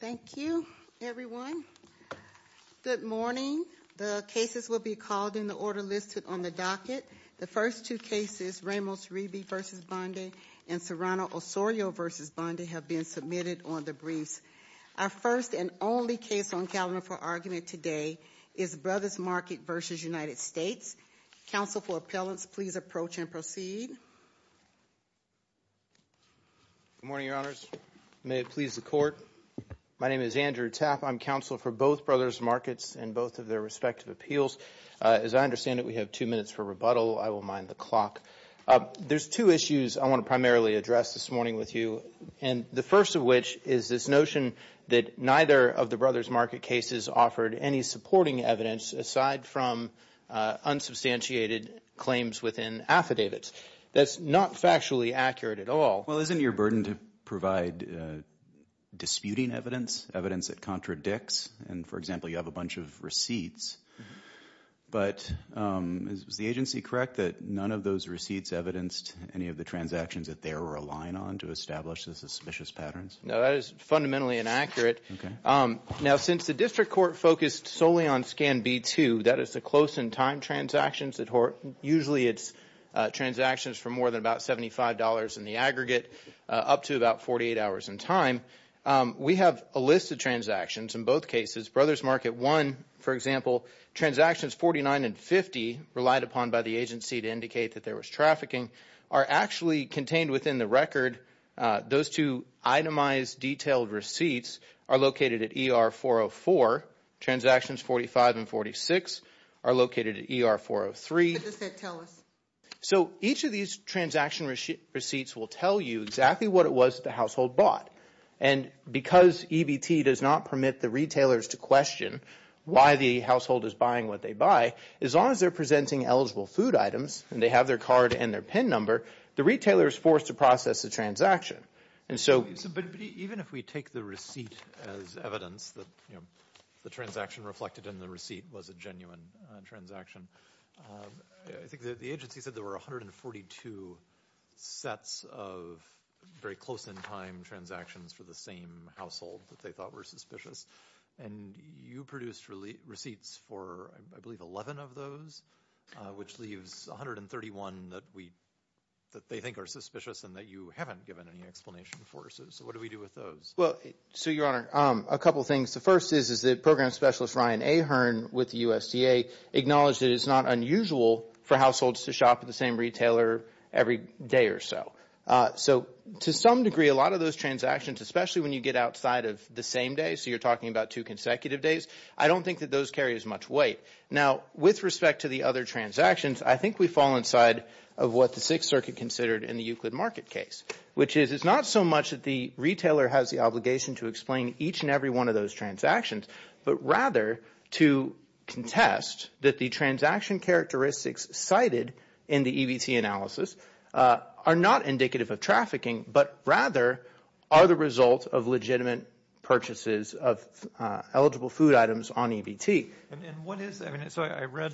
Thank you, everyone. Good morning. The cases will be called in the order listed on the docket. The first two cases, Ramos-Reeby v. Bondi and Serrano-Osorio v. Bondi have been submitted on the briefs. Our first and only case on calendar for argument today is Brothers Market v. United States. Counsel for appellants, please approach and proceed. Good morning, Your Honors. May it please the Court. My name is Andrew Tapp. I'm counsel for both Brothers Markets and both of their respective appeals. As I understand it, we have two minutes for rebuttal. I will mind the clock. There's two issues I want to primarily address this morning with you, and the first of which is this notion that neither of the Brothers Market cases offered any supporting evidence aside from unsubstantiated claims within affidavits. That's not factually accurate at all. Well, isn't your burden to provide disputing evidence, evidence that contradicts? And, for example, you have a bunch of receipts. But is the agency correct that none of those receipts evidenced any of the transactions that they were relying on to establish the suspicious patterns? No, that is fundamentally inaccurate. Okay. Now, since the District Court focused solely on Scan B-2, that is the close-in-time transactions that usually it's transactions for more than about $75 in the aggregate up to about 48 hours in time, we have a list of transactions in both cases. Brothers Market 1, for example, transactions 49 and 50 relied upon by the agency to indicate that there was trafficking are actually contained within the record. Those two itemized, detailed receipts are located at ER 404. Transactions 45 and 46 are located at ER 403. But does that tell us? So each of these transaction receipts will tell you exactly what it was that the household bought. And because EBT does not permit the retailers to question why the household is buying what they buy, as long as they're presenting eligible food items and they have their card and their PIN number, the retailer is forced to process the transaction. And so But even if we take the receipt as evidence that, you know, the transaction reflected in the receipt was a genuine transaction, I think the agency said there were 142 sets of very close-in-time transactions for the same household that they thought were suspicious. And you produced receipts for, I believe, 11 of those, which leaves 131 that we, that they think are suspicious and that you haven't given any explanation for. So what do we do with those? Well, so, Your Honor, a couple of things. The first is that Program Specialist Ryan Ahern with the USDA acknowledged that it's not unusual for households to shop at the same retailer every day or so. So to some degree, a lot of those transactions, especially when you get outside of the same day, so you're talking about two consecutive days, I don't think that those carry as much weight. Now, with respect to the other transactions, I think we fall inside of what the Sixth Circuit considered in the Euclid market case, which is it's not so much that the retailer has the obligation to explain each and every one of those transactions, but rather to contest that the transaction characteristics cited in the EBT analysis are not indicative of trafficking, but rather are the result of legitimate purchases of eligible food items on EBT. And what is, I mean, so I read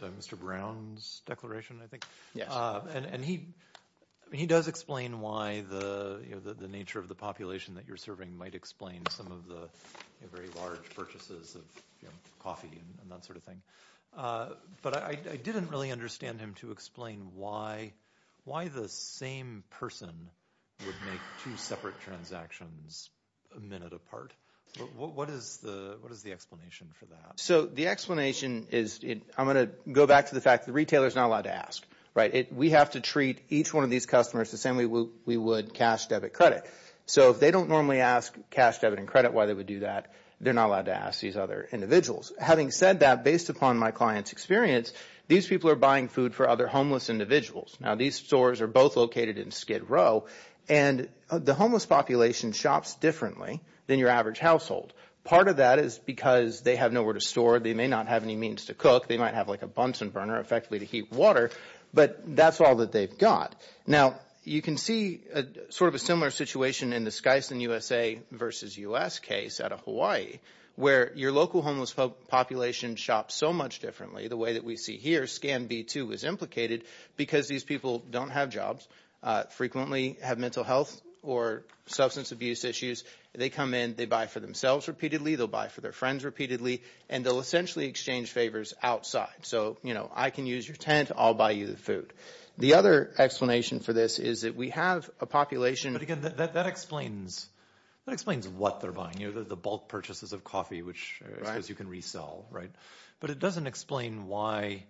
Mr. Brown's declaration, I think, and he does explain why the nature of the population that you're serving might explain some of the very large purchases of coffee and that sort of thing. But I didn't really understand him to explain why the same person would make two separate transactions a minute apart. What is the explanation for that? So the explanation is, I'm going to go back to the fact that the retailer is not allowed to ask, right? We have to treat each one of these customers the same way we would cash debit credit. So if they don't normally ask cash debit and credit why they would do that, they're not allowed to ask these other individuals. Having said that, based upon my client's experience, these people are buying food for other homeless individuals. Now, these stores are both located in Skid Row, and the homeless population shops differently than your average household. Part of that is because they have nowhere to store. They may not have any means to cook. They might have like a Bunsen burner, effectively, to heat water. But that's all that they've got. Now, you can see sort of a similar situation in the Skyson USA versus U.S. case out of Hawaii, where your local homeless population shops so much differently, the way that we see here, Scan V2 is implicated, because these people don't have jobs, frequently have mental health or substance abuse issues. They come in, they buy for themselves repeatedly, they'll buy for their friends repeatedly, and they'll essentially exchange favors outside. So, you know, I can use your tent, I'll buy you the food. The other explanation for this is that we have a population... But again, that explains what they're buying, you know, the bulk purchases of coffee, which I suppose you can resell, right? But it doesn't explain why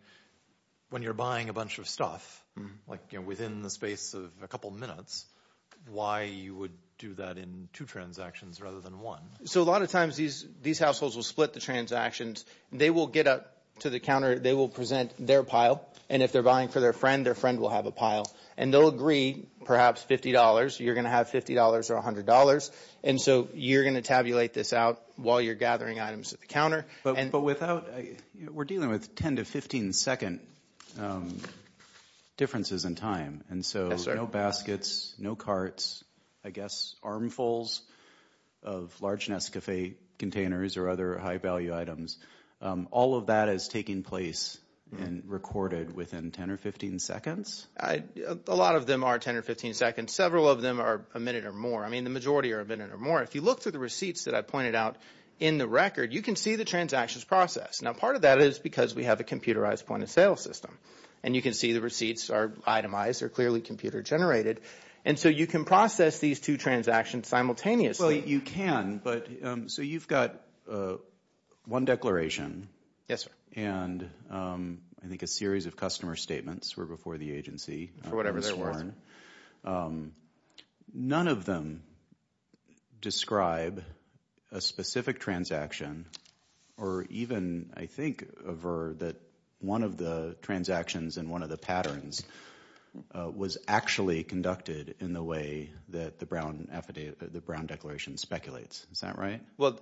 when you're buying a bunch of stuff, like, you know, within the space of a couple minutes, why you would do that in two transactions rather than one. So a lot of times these households will split the transactions. They will get up to the counter, they will present their pile. And if they're buying for their friend, their friend will have a pile. And they'll agree, perhaps $50, you're going to have $50 or $100. And so you're going to tabulate this out while you're gathering items at the counter. But without... We're dealing with 10 to 15 second differences in time. And so no baskets, no carts, I guess, armfuls of large Nescafe containers or other high value items. All of that is taking place and recorded within 10 or 15 seconds? A lot of them are 10 or 15 seconds. Several of them are a minute or more. I mean, the majority are a minute or more. If you look through the receipts that I pointed out in the record, you can see the transactions process. Now, part of that is because we have a computerized point of sale system. And you can see the receipts are itemized, they're clearly computer generated. And so you can process these two transactions simultaneously. Well, you can, but... So you've got one declaration. Yes, sir. And I think a series of customer statements were before the agency. For whatever they're worth. None of them describe a specific transaction or even, I think, avert that one of the transactions in one of the patterns was actually conducted in the way that the Brown declaration speculates. Is that right? Well,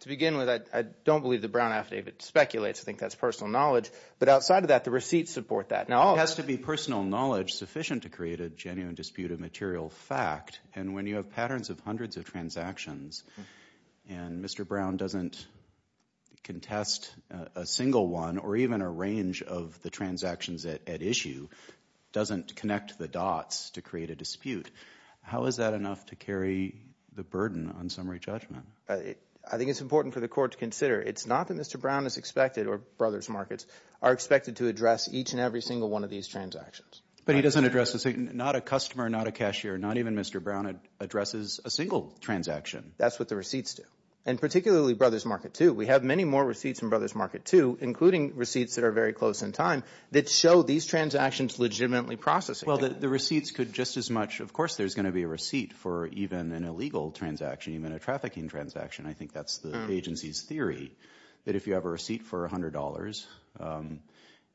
to begin with, I don't believe the Brown affidavit speculates. I think that's personal knowledge. But outside of that, the receipts support that. It has to be personal knowledge sufficient to create a genuine dispute of material fact. And when you have patterns of hundreds of transactions, and Mr. Brown doesn't contest a single one or even a range of the transactions at issue, doesn't connect the dots to create a dispute. How is that enough to carry the burden on summary judgment? I think it's important for the court to consider. It's not that Mr. Brown is expected, or Brothers Markets, are expected to address each and every single one of these transactions. But he doesn't address not a customer, not a cashier, not even Mr. Brown addresses a single transaction. That's what the receipts do. And particularly Brothers Market, too. We have many more receipts from Brothers Market, too, including receipts that are very close in time that show these transactions legitimately processing. Well, the receipts could just as much. Of course, there's going to be a receipt for even an illegal transaction, even a trafficking transaction. I think that's the agency's theory. That if you have a receipt for $100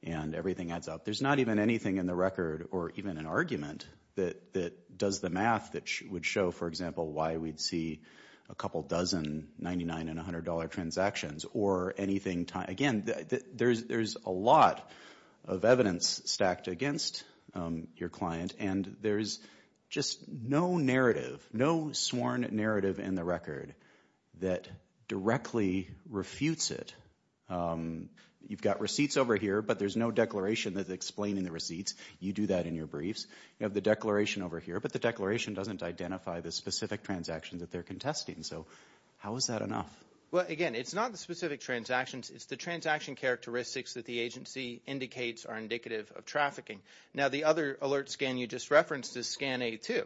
and everything adds up, there's not even anything in the record or even an argument that does the math that would show, for example, why we'd see a couple dozen $99 and $100 transactions or anything. Again, there's a lot of evidence stacked against your client, and there's just no narrative, no sworn narrative in the record that directly refutes it. You've got receipts over here, but there's no declaration that's explaining the receipts. You do that in your briefs. You have the declaration over here, but the declaration doesn't identify the specific transactions that they're contesting. So how is that enough? Well, again, it's not the specific transactions. It's the transaction characteristics that the agency indicates are indicative of trafficking. Now, the other alert scan you just referenced is scan A2,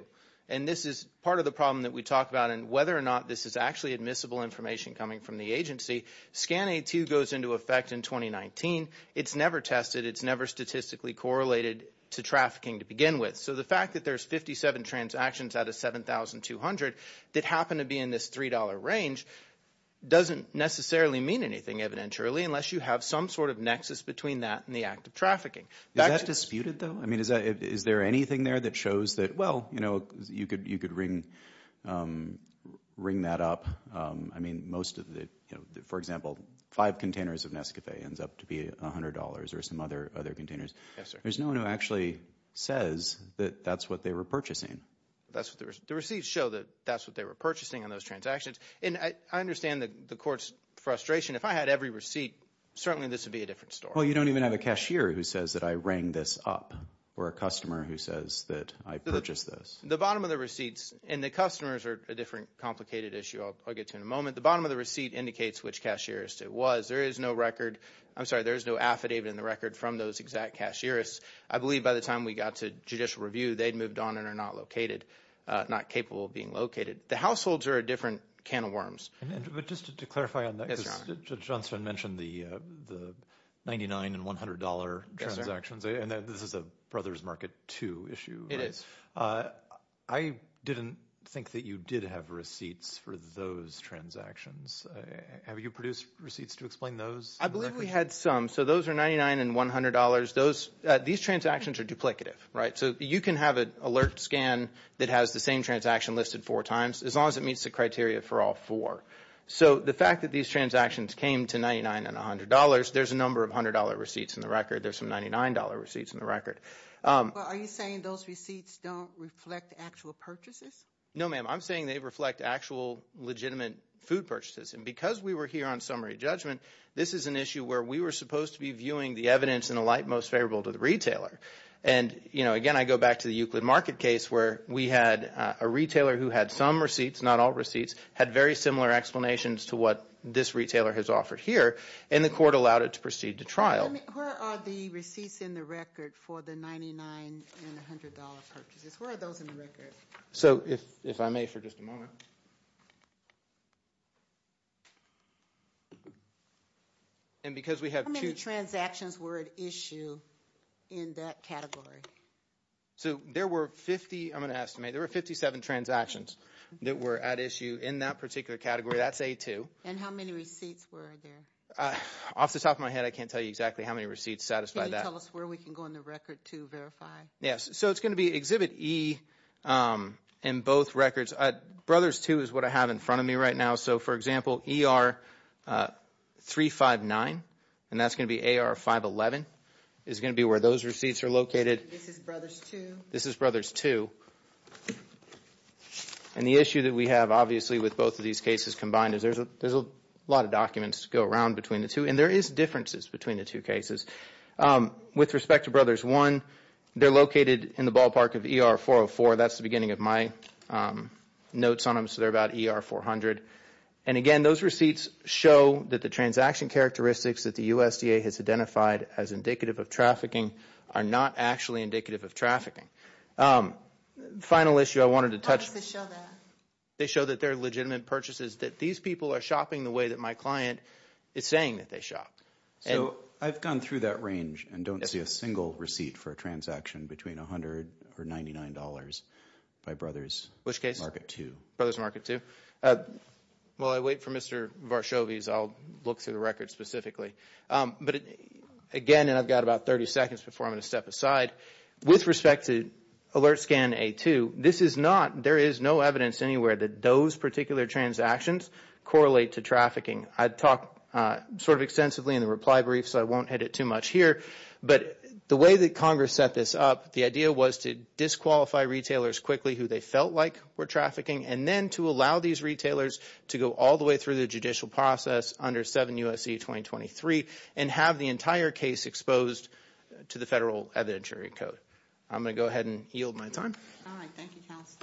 and this is part of the problem that we talk about and whether or not this is actually admissible information coming from the agency. Scan A2 goes into effect in 2019. It's never tested. It's never statistically correlated to trafficking to begin with. So the fact that there's 57 transactions out of 7,200 that happen to be in this $3 range doesn't necessarily mean anything evidentially unless you have some sort of nexus between that and the act of trafficking. Is that disputed, though? I mean, is there anything there that shows that, well, you know, you could ring that up? I mean, for example, five containers of Nescafe ends up to be $100 or some other containers. Yes, sir. There's no one who actually says that that's what they were purchasing. That's what the receipts show, that that's what they were purchasing on those transactions. And I understand the court's frustration. If I had every receipt, certainly this would be a different story. Well, you don't even have a cashier who says that I rang this up or a customer who says that I purchased this. The bottom of the receipts, and the customers are a different complicated issue I'll get to in a moment. The bottom of the receipt indicates which cashier it was. There is no record, I'm sorry, there is no affidavit in the record from those exact cashierists. I believe by the time we got to judicial review, they'd moved on and are not located, not capable of being located. The households are a different can of worms. But just to clarify on that, Judge Johnston mentioned the $99 and $100 transactions, and this is a Brothers Market II issue. I didn't think that you did have receipts for those transactions. Have you produced receipts to explain those? I believe we had some. So those are $99 and $100. These transactions are duplicative, right? So you can have an alert scan that has the same transaction listed four times, as long as it meets the criteria for all four. So the fact that these transactions came to $99 and $100, there's a number of $100 receipts in the record. There's some $99 receipts in the record. Are you saying those receipts don't reflect actual purchases? No, ma'am. I'm saying they reflect actual legitimate food purchases. And because we were here on summary judgment, this is an issue where we were supposed to be viewing the evidence in a light most favorable to the retailer. And again, I go back to the Euclid Market case where we had a retailer who had some receipts, not all receipts, had very similar explanations to what this retailer has offered here, and the court allowed it to proceed to trial. Where are the receipts in the record for the $99 and $100 purchases? Where are those in the record? So if I may for just a moment. And because we have two... How many transactions were at issue in that category? So there were 50, I'm going to estimate, there were 57 transactions that were at issue in that particular category. That's A2. And how many receipts were there? Off the top of my head, I can't tell you exactly how many receipts satisfy that. Can you tell us where we can go in the record to verify? Yes. So it's going to be Exhibit E in both records. Brothers 2 is what I have in front of me right now. So for example, ER 359, and that's going to be AR 511, is going to be where those receipts are located. This is Brothers 2. And the issue that we have, obviously, with both of these cases combined is there's a lot of documents to go around between the two, and there is differences between the two cases. With respect to Brothers 1, they're located in the ballpark of ER 404. That's the beginning of my notes on them, so they're about ER 400. And again, those receipts show that the transaction characteristics that the USDA has identified as indicative of trafficking are not actually indicative of trafficking. Final issue I wanted to touch... How does this show that? They show that they're legitimate purchases, that these people are shopping the way that my client is saying that they shop. So I've gone through that range and don't see a single receipt for a transaction between $100 or $99 by Brothers Market 2. Which case? Brothers Market 2. While I wait for Mr. Varshavy's, I'll look through the again, and I've got about 30 seconds before I'm going to step aside. With respect to Alert Scan A2, this is not... There is no evidence anywhere that those particular transactions correlate to trafficking. I've talked sort of extensively in the reply brief, so I won't hit it too much here. But the way that Congress set this up, the idea was to disqualify retailers quickly who they felt like were trafficking, and then to allow these retailers to go all the way through the judicial process under 7 U.S.C. 2023, and have the entire case exposed to the federal evidentiary code. I'm going to go ahead and yield my time. All right. Thank you, counsel.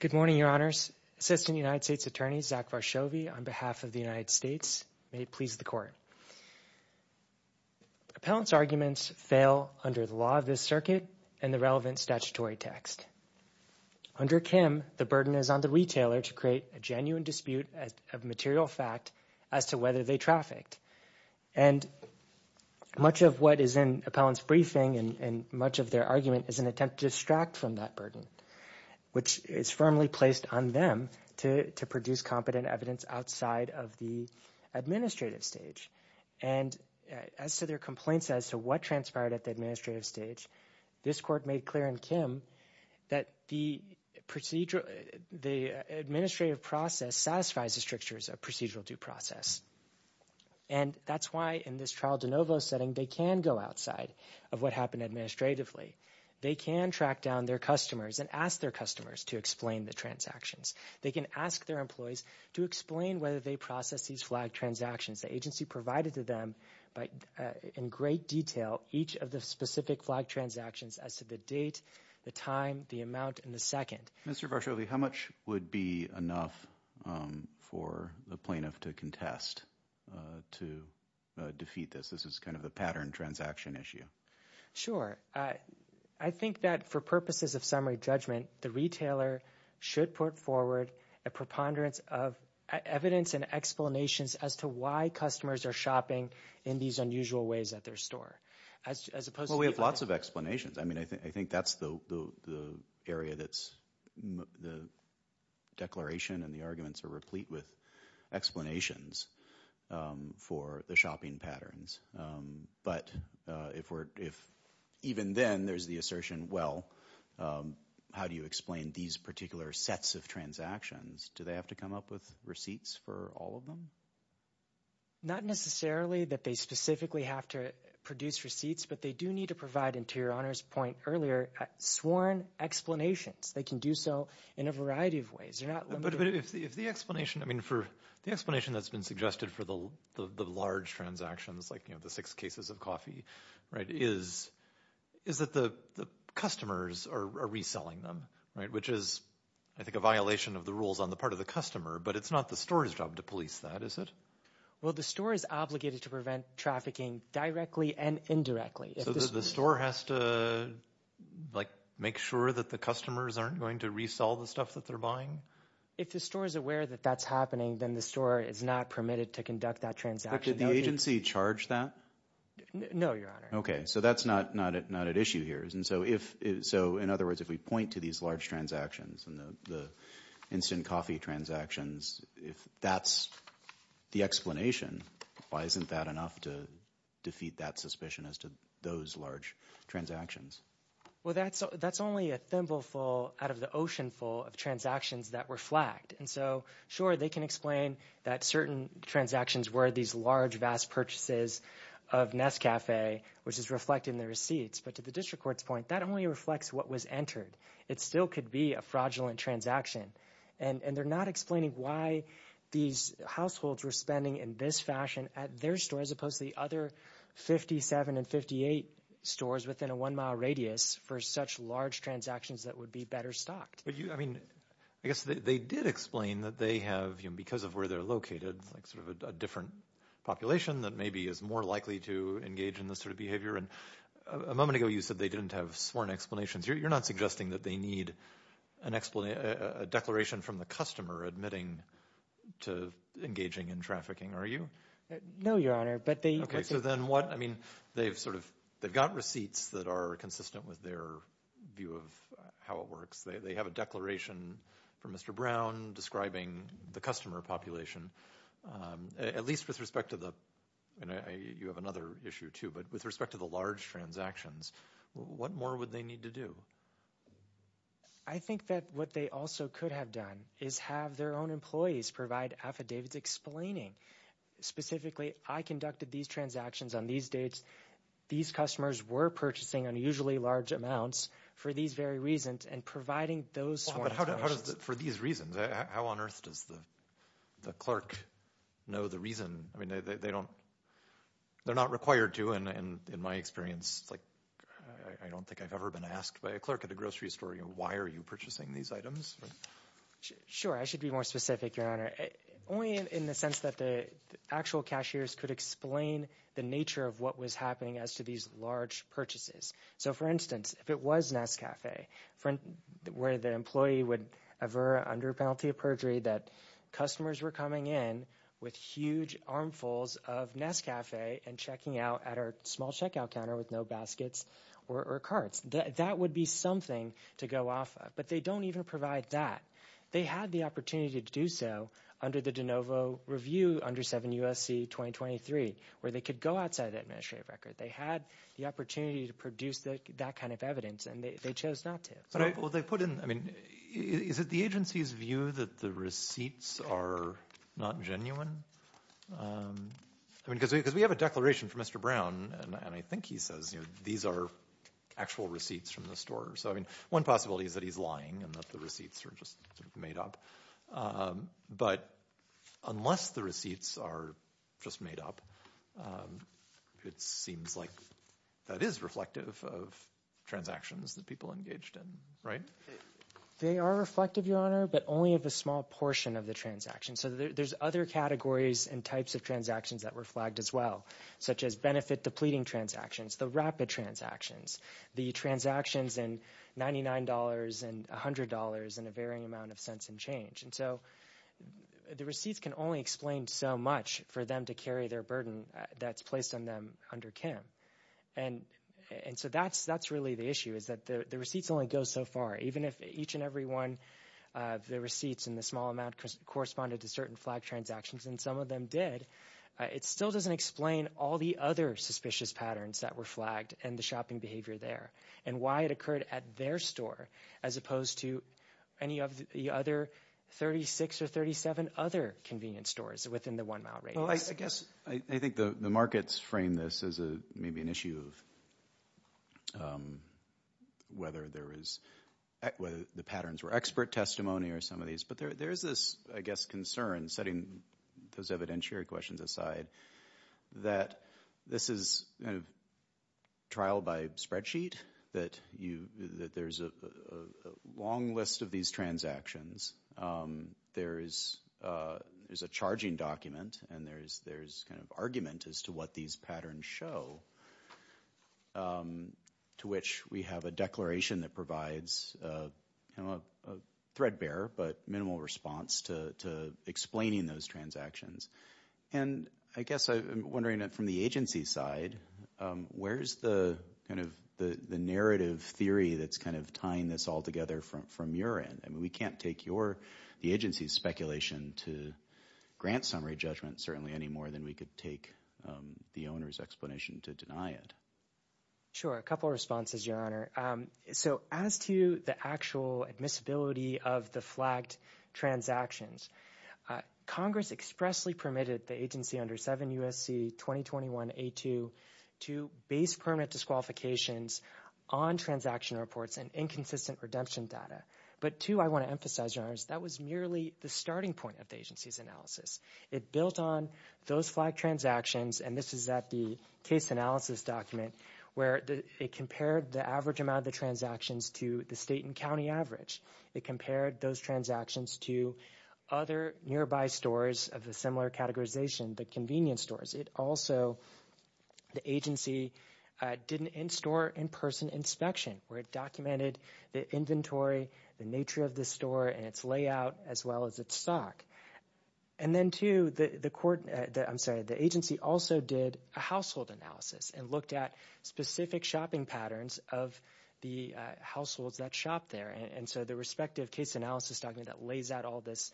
Good morning, Your Honors. Assistant United States Attorney Zach Varshavy on behalf of the United States. May it please the Court. Appellant's arguments fail under the law of this circuit and the relevant statutory text. Under Kim, the burden is on the retailer to create a genuine dispute of material fact as to whether they trafficked. And much of what is in appellant's briefing and much of their argument is an attempt to from that burden, which is firmly placed on them to produce competent evidence outside of the administrative stage. And as to their complaints as to what transpired at the administrative stage, this Court made clear in Kim that the administrative process satisfies the strictures of procedural due process. And that's why in this trial de novo setting, they can go outside of what happened administratively. They can track down their customers and ask their customers to explain the transactions. They can ask their employees to explain whether they process these flag transactions. The agency provided to them in great detail each of the specific flag transactions as to the date, the time, the amount, and the second. Mr. Varshavy, how much would be enough for the plaintiff to contest to defeat this? This is kind of a pattern transaction issue. Sure. I think that for purposes of summary judgment, the retailer should put forward a preponderance of evidence and explanations as to why customers are shopping in these unusual ways at their store. Well, we have lots of explanations. I mean, I think that's the area that's the declaration and the arguments are replete with explanations for the shopping patterns. But if even then, there's the assertion, well, how do you explain these particular sets of transactions? Do they have to come up with receipts for all of them? Not necessarily that they specifically have to produce receipts, but they do need to provide, and to your honor's point earlier, sworn explanations. They can do so in a variety of ways. They're not limited. But if the explanation, I mean, for the explanation that's been suggested for the large transactions, like the six cases of coffee, is that the customers are reselling them, which is, I think, a violation of the rules on the part of the customer. But it's not the store's job to police that, is it? Well, the store is obligated to prevent trafficking directly and indirectly. So the store has to make sure that the customers aren't going to resell the stuff that they're If the store is aware that that's happening, then the store is not permitted to conduct that transaction. Did the agency charge that? No, your honor. Okay. So that's not at issue here. So in other words, if we point to these large transactions and the instant coffee transactions, if that's the explanation, why isn't that enough to defeat that suspicion as to those large transactions? Well, that's only a thimbleful out of the ocean full of transactions that were flagged. And so, sure, they can explain that certain transactions were these large, vast purchases of Nescafe, which is reflected in the receipts. But to the district court's point, that only reflects what was entered. It still could be a fraudulent transaction. And they're not explaining why these households were spending in this fashion at their store, as opposed to the other 57 and 58 stores within a one-mile radius for such large transactions that would be better stocked. I mean, I guess they did explain that they have, because of where they're located, like sort of a different population that maybe is more likely to engage in this sort of behavior. And a moment ago, you said they didn't have sworn explanations. You're not suggesting that they need a declaration from the customer admitting to engaging in trafficking, are you? No, your honor. Okay. So then what? I mean, they've got receipts that are consistent with their view of how it works. They have a declaration from Mr. Brown describing the customer population, at least with respect to the, and you have another issue too, but with respect to the large transactions, what more would they need to do? I think that what they also could have done is have their own employees provide affidavits explaining specifically, I conducted these transactions on these dates. These customers were purchasing unusually large amounts for these very reasons and providing those sworn explanations. For these reasons, how on earth does the clerk know the reason? I mean, they don't, they're not required to. And in my experience, like I don't think I've ever been asked by a clerk at a grocery store, why are you purchasing these items? Sure. I should be more specific, your honor. Only in the sense that the actual cashiers could explain the nature of what was happening as to these large purchases. So for instance, if it was Nescafe, where the employee would ever, under penalty of perjury, that customers were coming in with huge armfuls of Nescafe and checking out at our small checkout counter with no baskets or carts, that would be something to go off of. But they don't even provide that. They had the opportunity to do so under the DeNovo review under 7 U.S.C. 2023, where they could go outside the administrative record. They had the opportunity to produce that kind of evidence, and they chose not to. But they put in, I mean, is it the agency's view that the receipts are not genuine? I mean, because we have a declaration from Mr. Brown, and I think he says, you know, these are actual receipts from the store. So I mean, one possibility is that he's lying and that the receipts are just made up. But unless the receipts are just made up, it seems like that is reflective of transactions that people engaged in, right? They are reflective, Your Honor, but only of a small portion of the transaction. So there's other categories and types of transactions that were flagged as well, such as benefit-depleting transactions, the rapid transactions, the transactions in $99 and $100 and a varying amount of cents and change. And so the receipts can only explain so much for them to carry their burden that's placed on them under Kim. And so that's really the issue, is that the receipts only go so far. Even if each and every one of the receipts in the small amount corresponded to certain flag transactions, and some of them did, it still doesn't explain all the other suspicious patterns that were flagged and the shopping behavior there and why it occurred at their store as opposed to any of the other 36 or 37 other convenience stores within the one-mile radius. Well, I guess I think the markets frame this as maybe an issue of whether the patterns were expert testimony or some of these. But there is this, I guess, concern, setting those evidentiary questions aside, that this is a trial-by-spreadsheet, that there's a long list of these transactions. There is a charging document, and there's argument as to what these patterns show, to which we have a declaration that provides a threadbare but minimal response to explaining those transactions. And I guess I'm wondering, from the agency side, where's the narrative theory that's kind of tying this all together from your end? I mean, we can't take the agency's speculation to grant summary judgment, certainly, any more than we could take the owner's explanation to deny it. Sure. A couple of responses, Your Honor. So as to the actual admissibility of the flagged transactions, Congress expressly permitted the agency under 7 U.S.C. 2021-A2 to base permanent disqualifications on transaction reports and inconsistent redemption data. But two, I want to emphasize, Your Honor, that was merely the starting point of the agency's analysis. It built on those flagged transactions, and this is at the case analysis document, where it compared the average amount of the transactions to the state and county average. It compared those transactions to other nearby stores of a similar categorization, the convenience stores. It also, the agency, did an in-store, in-person inspection, where it documented the inventory, the nature of the store, and its layout, as well as its stock. And then two, the agency also did a household analysis and looked at specific shopping patterns of the households that shop there. And so the respective case analysis document that lays out all this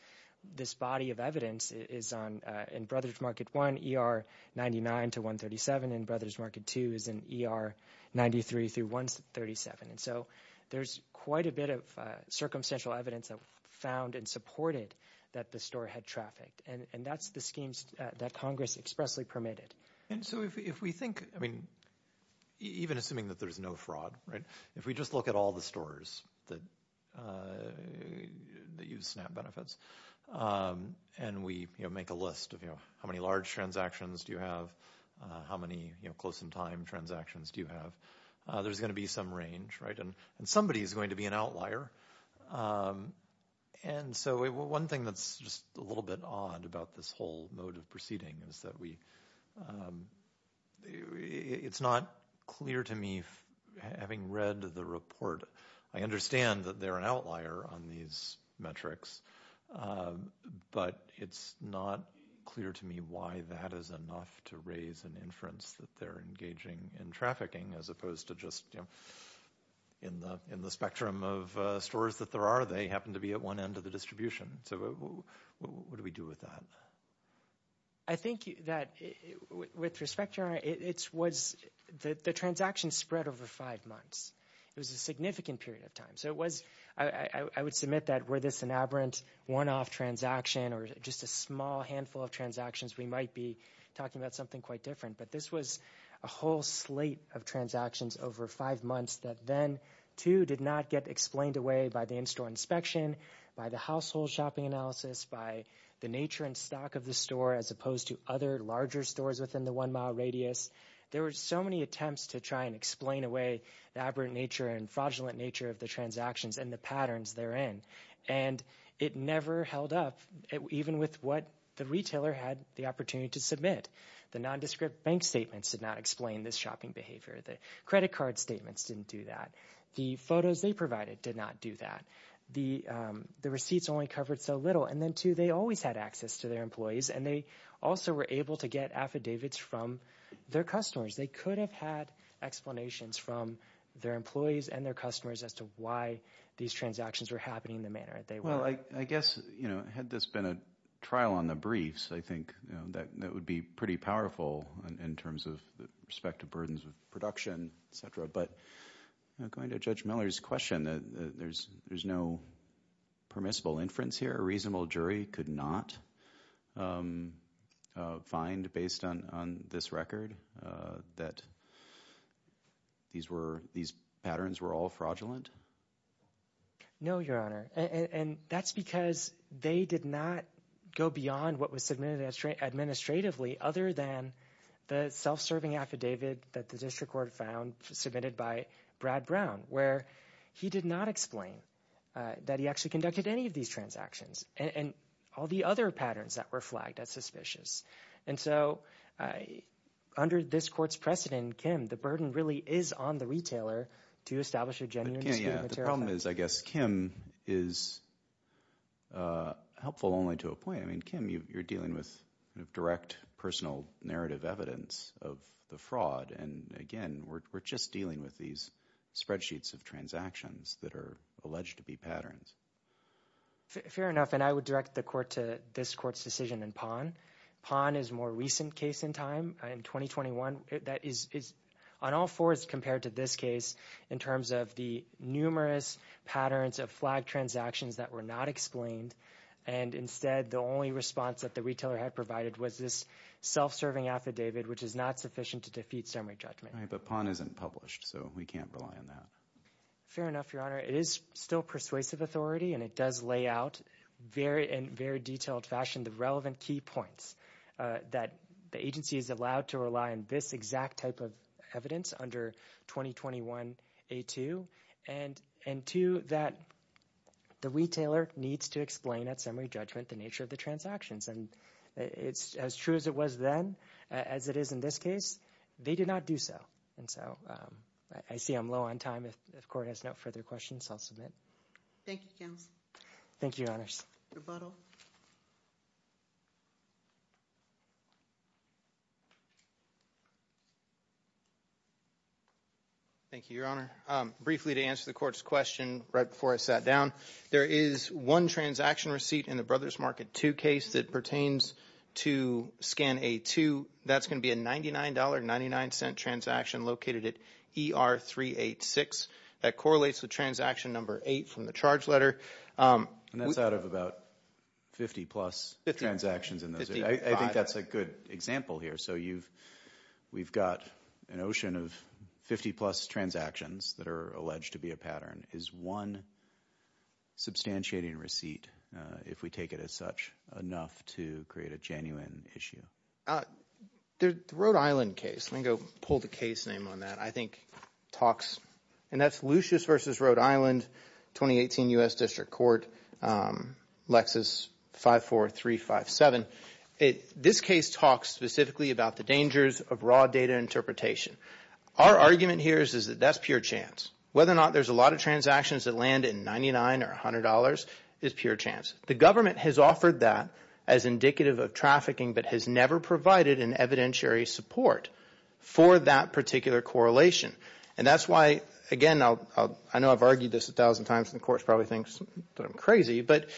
body of evidence is on, in Brothers Market 1, ER 99 to 137, and Brothers Market 2 is in ER 93 through 137. And so there's quite a bit of circumstantial evidence that was found and supported that the store had trafficked. And that's the schemes that Congress expressly permitted. And so if we think, I mean, even assuming that there's no fraud, right, if we just look at all the stores that use SNAP benefits, and we make a list of how many large transactions do you have, how many close-in-time transactions do you have, there's gonna be some range, right? And somebody is going to be an outlier. And so one thing that's just a little bit odd about this whole mode of proceeding is that it's not clear to me, having read the report, I understand that they're an outlier on these metrics, but it's not clear to me why that is enough to raise an inference that they're engaging in trafficking, as opposed to just in the spectrum of stores that there are, they happen to be at one end of the distribution. So what do we do with that? I think that, with respect to your honor, it was, the transaction spread over five months. It was a significant period of time. So it was, I would submit that were this an aberrant one-off transaction, or just a small handful of transactions, we might be talking about something quite different. But this was a whole slate of transactions over five months that then, too, did not get explained away by the in-store inspection, by the household shopping analysis, by the nature and stock of the store, as opposed to other larger stores within the one-mile radius. There were so many attempts to try and explain away the aberrant nature and fraudulent nature of the transactions and the patterns they're in. And it never held up, even with what the retailer had the opportunity to submit. The nondescript bank statements did not explain this shopping behavior. The credit card statements didn't do that. The photos they provided did not do that. The receipts only covered so little. And then, too, they always had access to their employees, and they also were able to get affidavits from their customers. They could have had explanations from their employees and their customers as to why these transactions were happening in the manner that they were. Well, I guess, you know, had this been a trial on the briefs, I think that would be pretty powerful in terms of the respective burdens of production, et cetera. But going to Judge Miller's question, there's no permissible inference here? A reasonable jury could not find, based on this record, that these patterns were all fraudulent? No, Your Honor. And that's because they did not go beyond what was submitted administratively, other than the self-serving affidavit that the district court found, submitted by Brad Brown, where he did not explain that he actually conducted any of these transactions, and all the other patterns that were flagged as suspicious. And so, under this court's precedent, Kim, the burden really is on the retailer to establish a genuine dispute of material facts. The problem is, I guess, Kim is helpful only to a point. I mean, Kim, you're dealing with direct, personal narrative evidence of the fraud. And again, we're just dealing with these spreadsheets of transactions that are alleged to be patterns. Fair enough. And I would direct the court to this court's decision in PON. PON is a more recent case in time, in 2021. That is, on all fours, compared to this case, in terms of the numerous patterns of flagged transactions that were not explained. And instead, the only response that the retailer had provided was this self-serving affidavit, which is not sufficient to defeat summary judgment. Right, but PON isn't published, so we can't rely on that. Fair enough, Your Honor. It is still persuasive authority, and it does lay out in very detailed fashion the relevant key points that the agency is allowed to rely on this exact type of evidence under 2021-A2, and two, that the retailer needs to explain at summary judgment the nature of the transactions. And as true as it was then, as it is in this case, they did not do so. And so I see I'm low on time. If the court has no further questions, I'll submit. Thank you, counsel. Thank you, Your Honors. Rebuttal. Thank you, Your Honor. Briefly, to answer the court's question right before I sat down, there is one transaction receipt in the Brothers Market 2 case that pertains to Scan-A2. That's going to be a $99.99 transaction located at ER386. That correlates with transaction number 8 from the charge letter. And that's out of about 50-plus transactions in those. I think that's a good example here. So we've got an ocean of 50-plus transactions that are alleged to be a pattern. Is one substantiating receipt, if we take it as such, enough to create a genuine issue? The Rhode Island case, let me go pull the case name on that, I think talks, and that's Lucius v. Rhode Island, 2018 U.S. District Court, Lexis 54357. This case talks specifically about the dangers of raw data interpretation. Our argument here is that that's pure chance. Whether or not there's a lot of transactions that land in $99 or $100 is pure chance. The government has offered that as indicative of trafficking, but has never provided an evidentiary support for that particular correlation. And that's why, again, I know I've argued this a thousand times and the court probably thinks that I'm crazy, but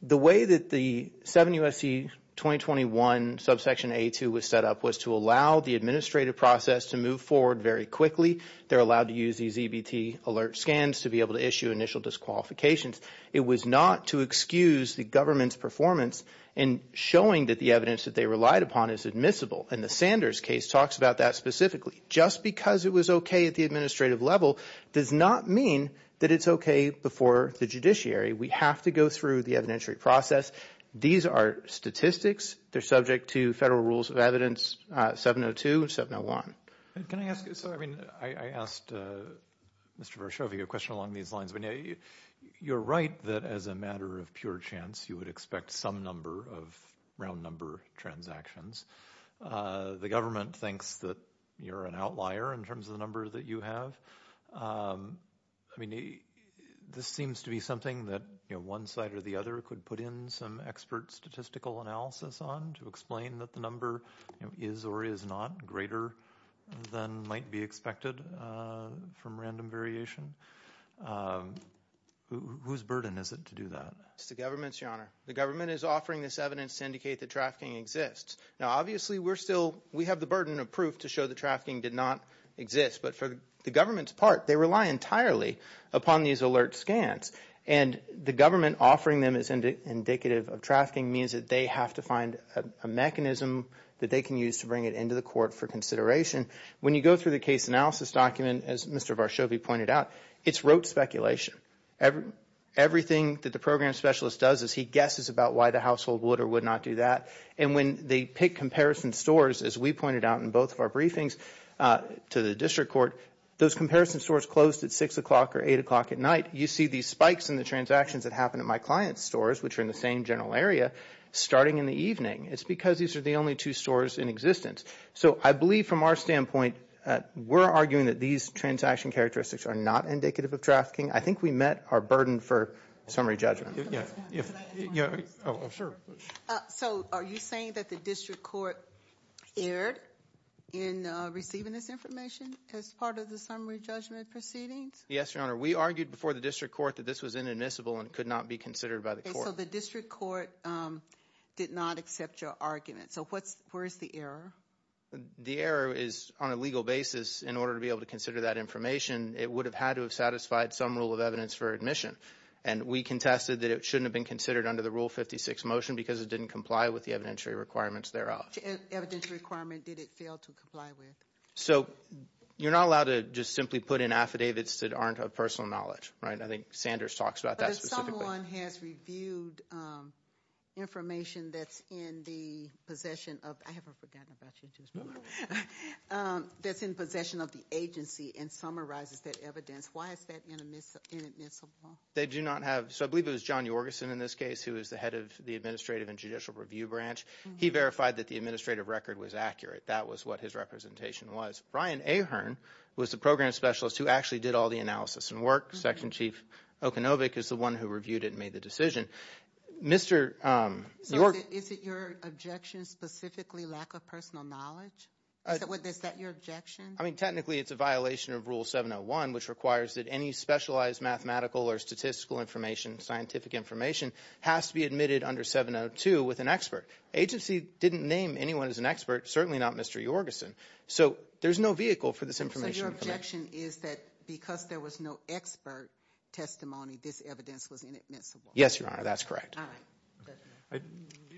the way that the 7 U.S.C. 2021 subsection A2 was set up was to allow the administrative process to move forward very quickly. They're allowed to use these EBT alert scans to be able to issue initial disqualifications. It was not to excuse the government's performance in showing that the evidence that they relied upon is admissible. And the Sanders case talks about that specifically. Just because it was okay at the administrative level does not mean that it's okay before the judiciary. We have to go through the evidentiary process. These are statistics. They're subject to federal rules of evidence 702 and 701. Can I ask, so I mean, I asked Mr. Varshavy a question along these lines. You're right that as a matter of pure chance, you would expect some number of round number transactions. The government thinks that you're an outlier in terms of the number that you have. I mean, this seems to be something that, you know, one side or the other could put in some expert statistical analysis on to explain that the number is or is not greater than might be expected from random variation. Whose burden is it to do that? It's the government's, your honor. The government is offering this evidence to indicate that trafficking exists. Now, obviously we're still, we have the burden of proof to show the trafficking did not exist. But for the government's part, they rely entirely upon these alert scans. And the government offering them as indicative of trafficking means that they have to find a mechanism that they can use to bring it to the court for consideration. When you go through the case analysis document, as Mr. Varshovy pointed out, it's rote speculation. Everything that the program specialist does is he guesses about why the household would or would not do that. And when they pick comparison stores, as we pointed out in both of our briefings to the district court, those comparison stores closed at six o'clock or eight o'clock at night. You see these spikes in the transactions that happen at my client's stores, which are in the same general area, starting in the evening. It's because these are the only two stores in existence. I believe from our standpoint, we're arguing that these transaction characteristics are not indicative of trafficking. I think we met our burden for summary judgment. Can I ask one more question? Oh, sure. So are you saying that the district court erred in receiving this information as part of the summary judgment proceedings? Yes, Your Honor. We argued before the district court that this was inadmissible and could not be considered by the court. So the district court did not accept your argument. So where's the error? The error is on a legal basis. In order to be able to consider that information, it would have had to have satisfied some rule of evidence for admission. And we contested that it shouldn't have been considered under the Rule 56 motion because it didn't comply with the evidentiary requirements thereof. Evidentiary requirement, did it fail to comply with? So you're not allowed to just simply put in affidavits that aren't of personal knowledge, right? I think Sanders talks about that specifically. But if someone has reviewed information that's in the possession of, I haven't forgotten about you. That's in possession of the agency and summarizes that evidence, why is that inadmissible? They do not have, so I believe it was John Yorgeson in this case who is the head of the administrative and judicial review branch. He verified that the administrative record was accurate. That was what his representation was. Brian Ahern was the program specialist who actually did all the analysis and work. Section Chief Okunovic is the one who reviewed it and made the decision. Mr. Yorgeson- Is it your objection specifically lack of personal knowledge? Is that your objection? I mean, technically it's a violation of rule 701 which requires that any specialized mathematical or statistical information, scientific information has to be admitted under 702 with an expert. Agency didn't name anyone as an expert, certainly not Mr. Yorgeson. So there's no vehicle for this information- So your objection is that because there was no expert testimony, this evidence was inadmissible? Yes, Your Honor, that's correct. All right. I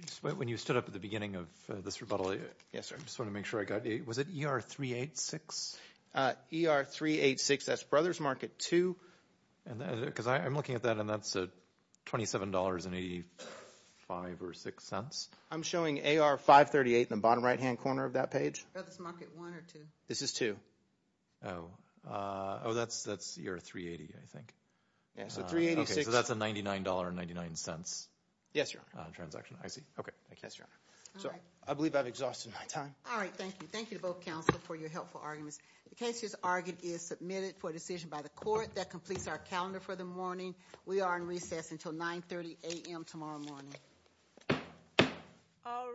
just went when you stood up at the beginning of this rebuttal. Yes, sir. I just want to make sure I got it. Was it ER 386? ER 386, that's Brothers Market 2. Because I'm looking at that and that's a $27.85 or six cents. I'm showing AR 538 in the bottom right-hand corner of that page. Brothers Market 1 or 2? This is 2. Oh, that's ER 380, I think. Yeah, so 386- So that's a $99.99. Yes, Your Honor. Transaction, I see. Okay, thank you. Yes, Your Honor. So I believe I've exhausted my time. All right, thank you. Thank you to both counsel for your helpful arguments. The case is argued is submitted for decision by the court that completes our calendar for the morning. We are in recess until 9 30 a.m. tomorrow morning. All right.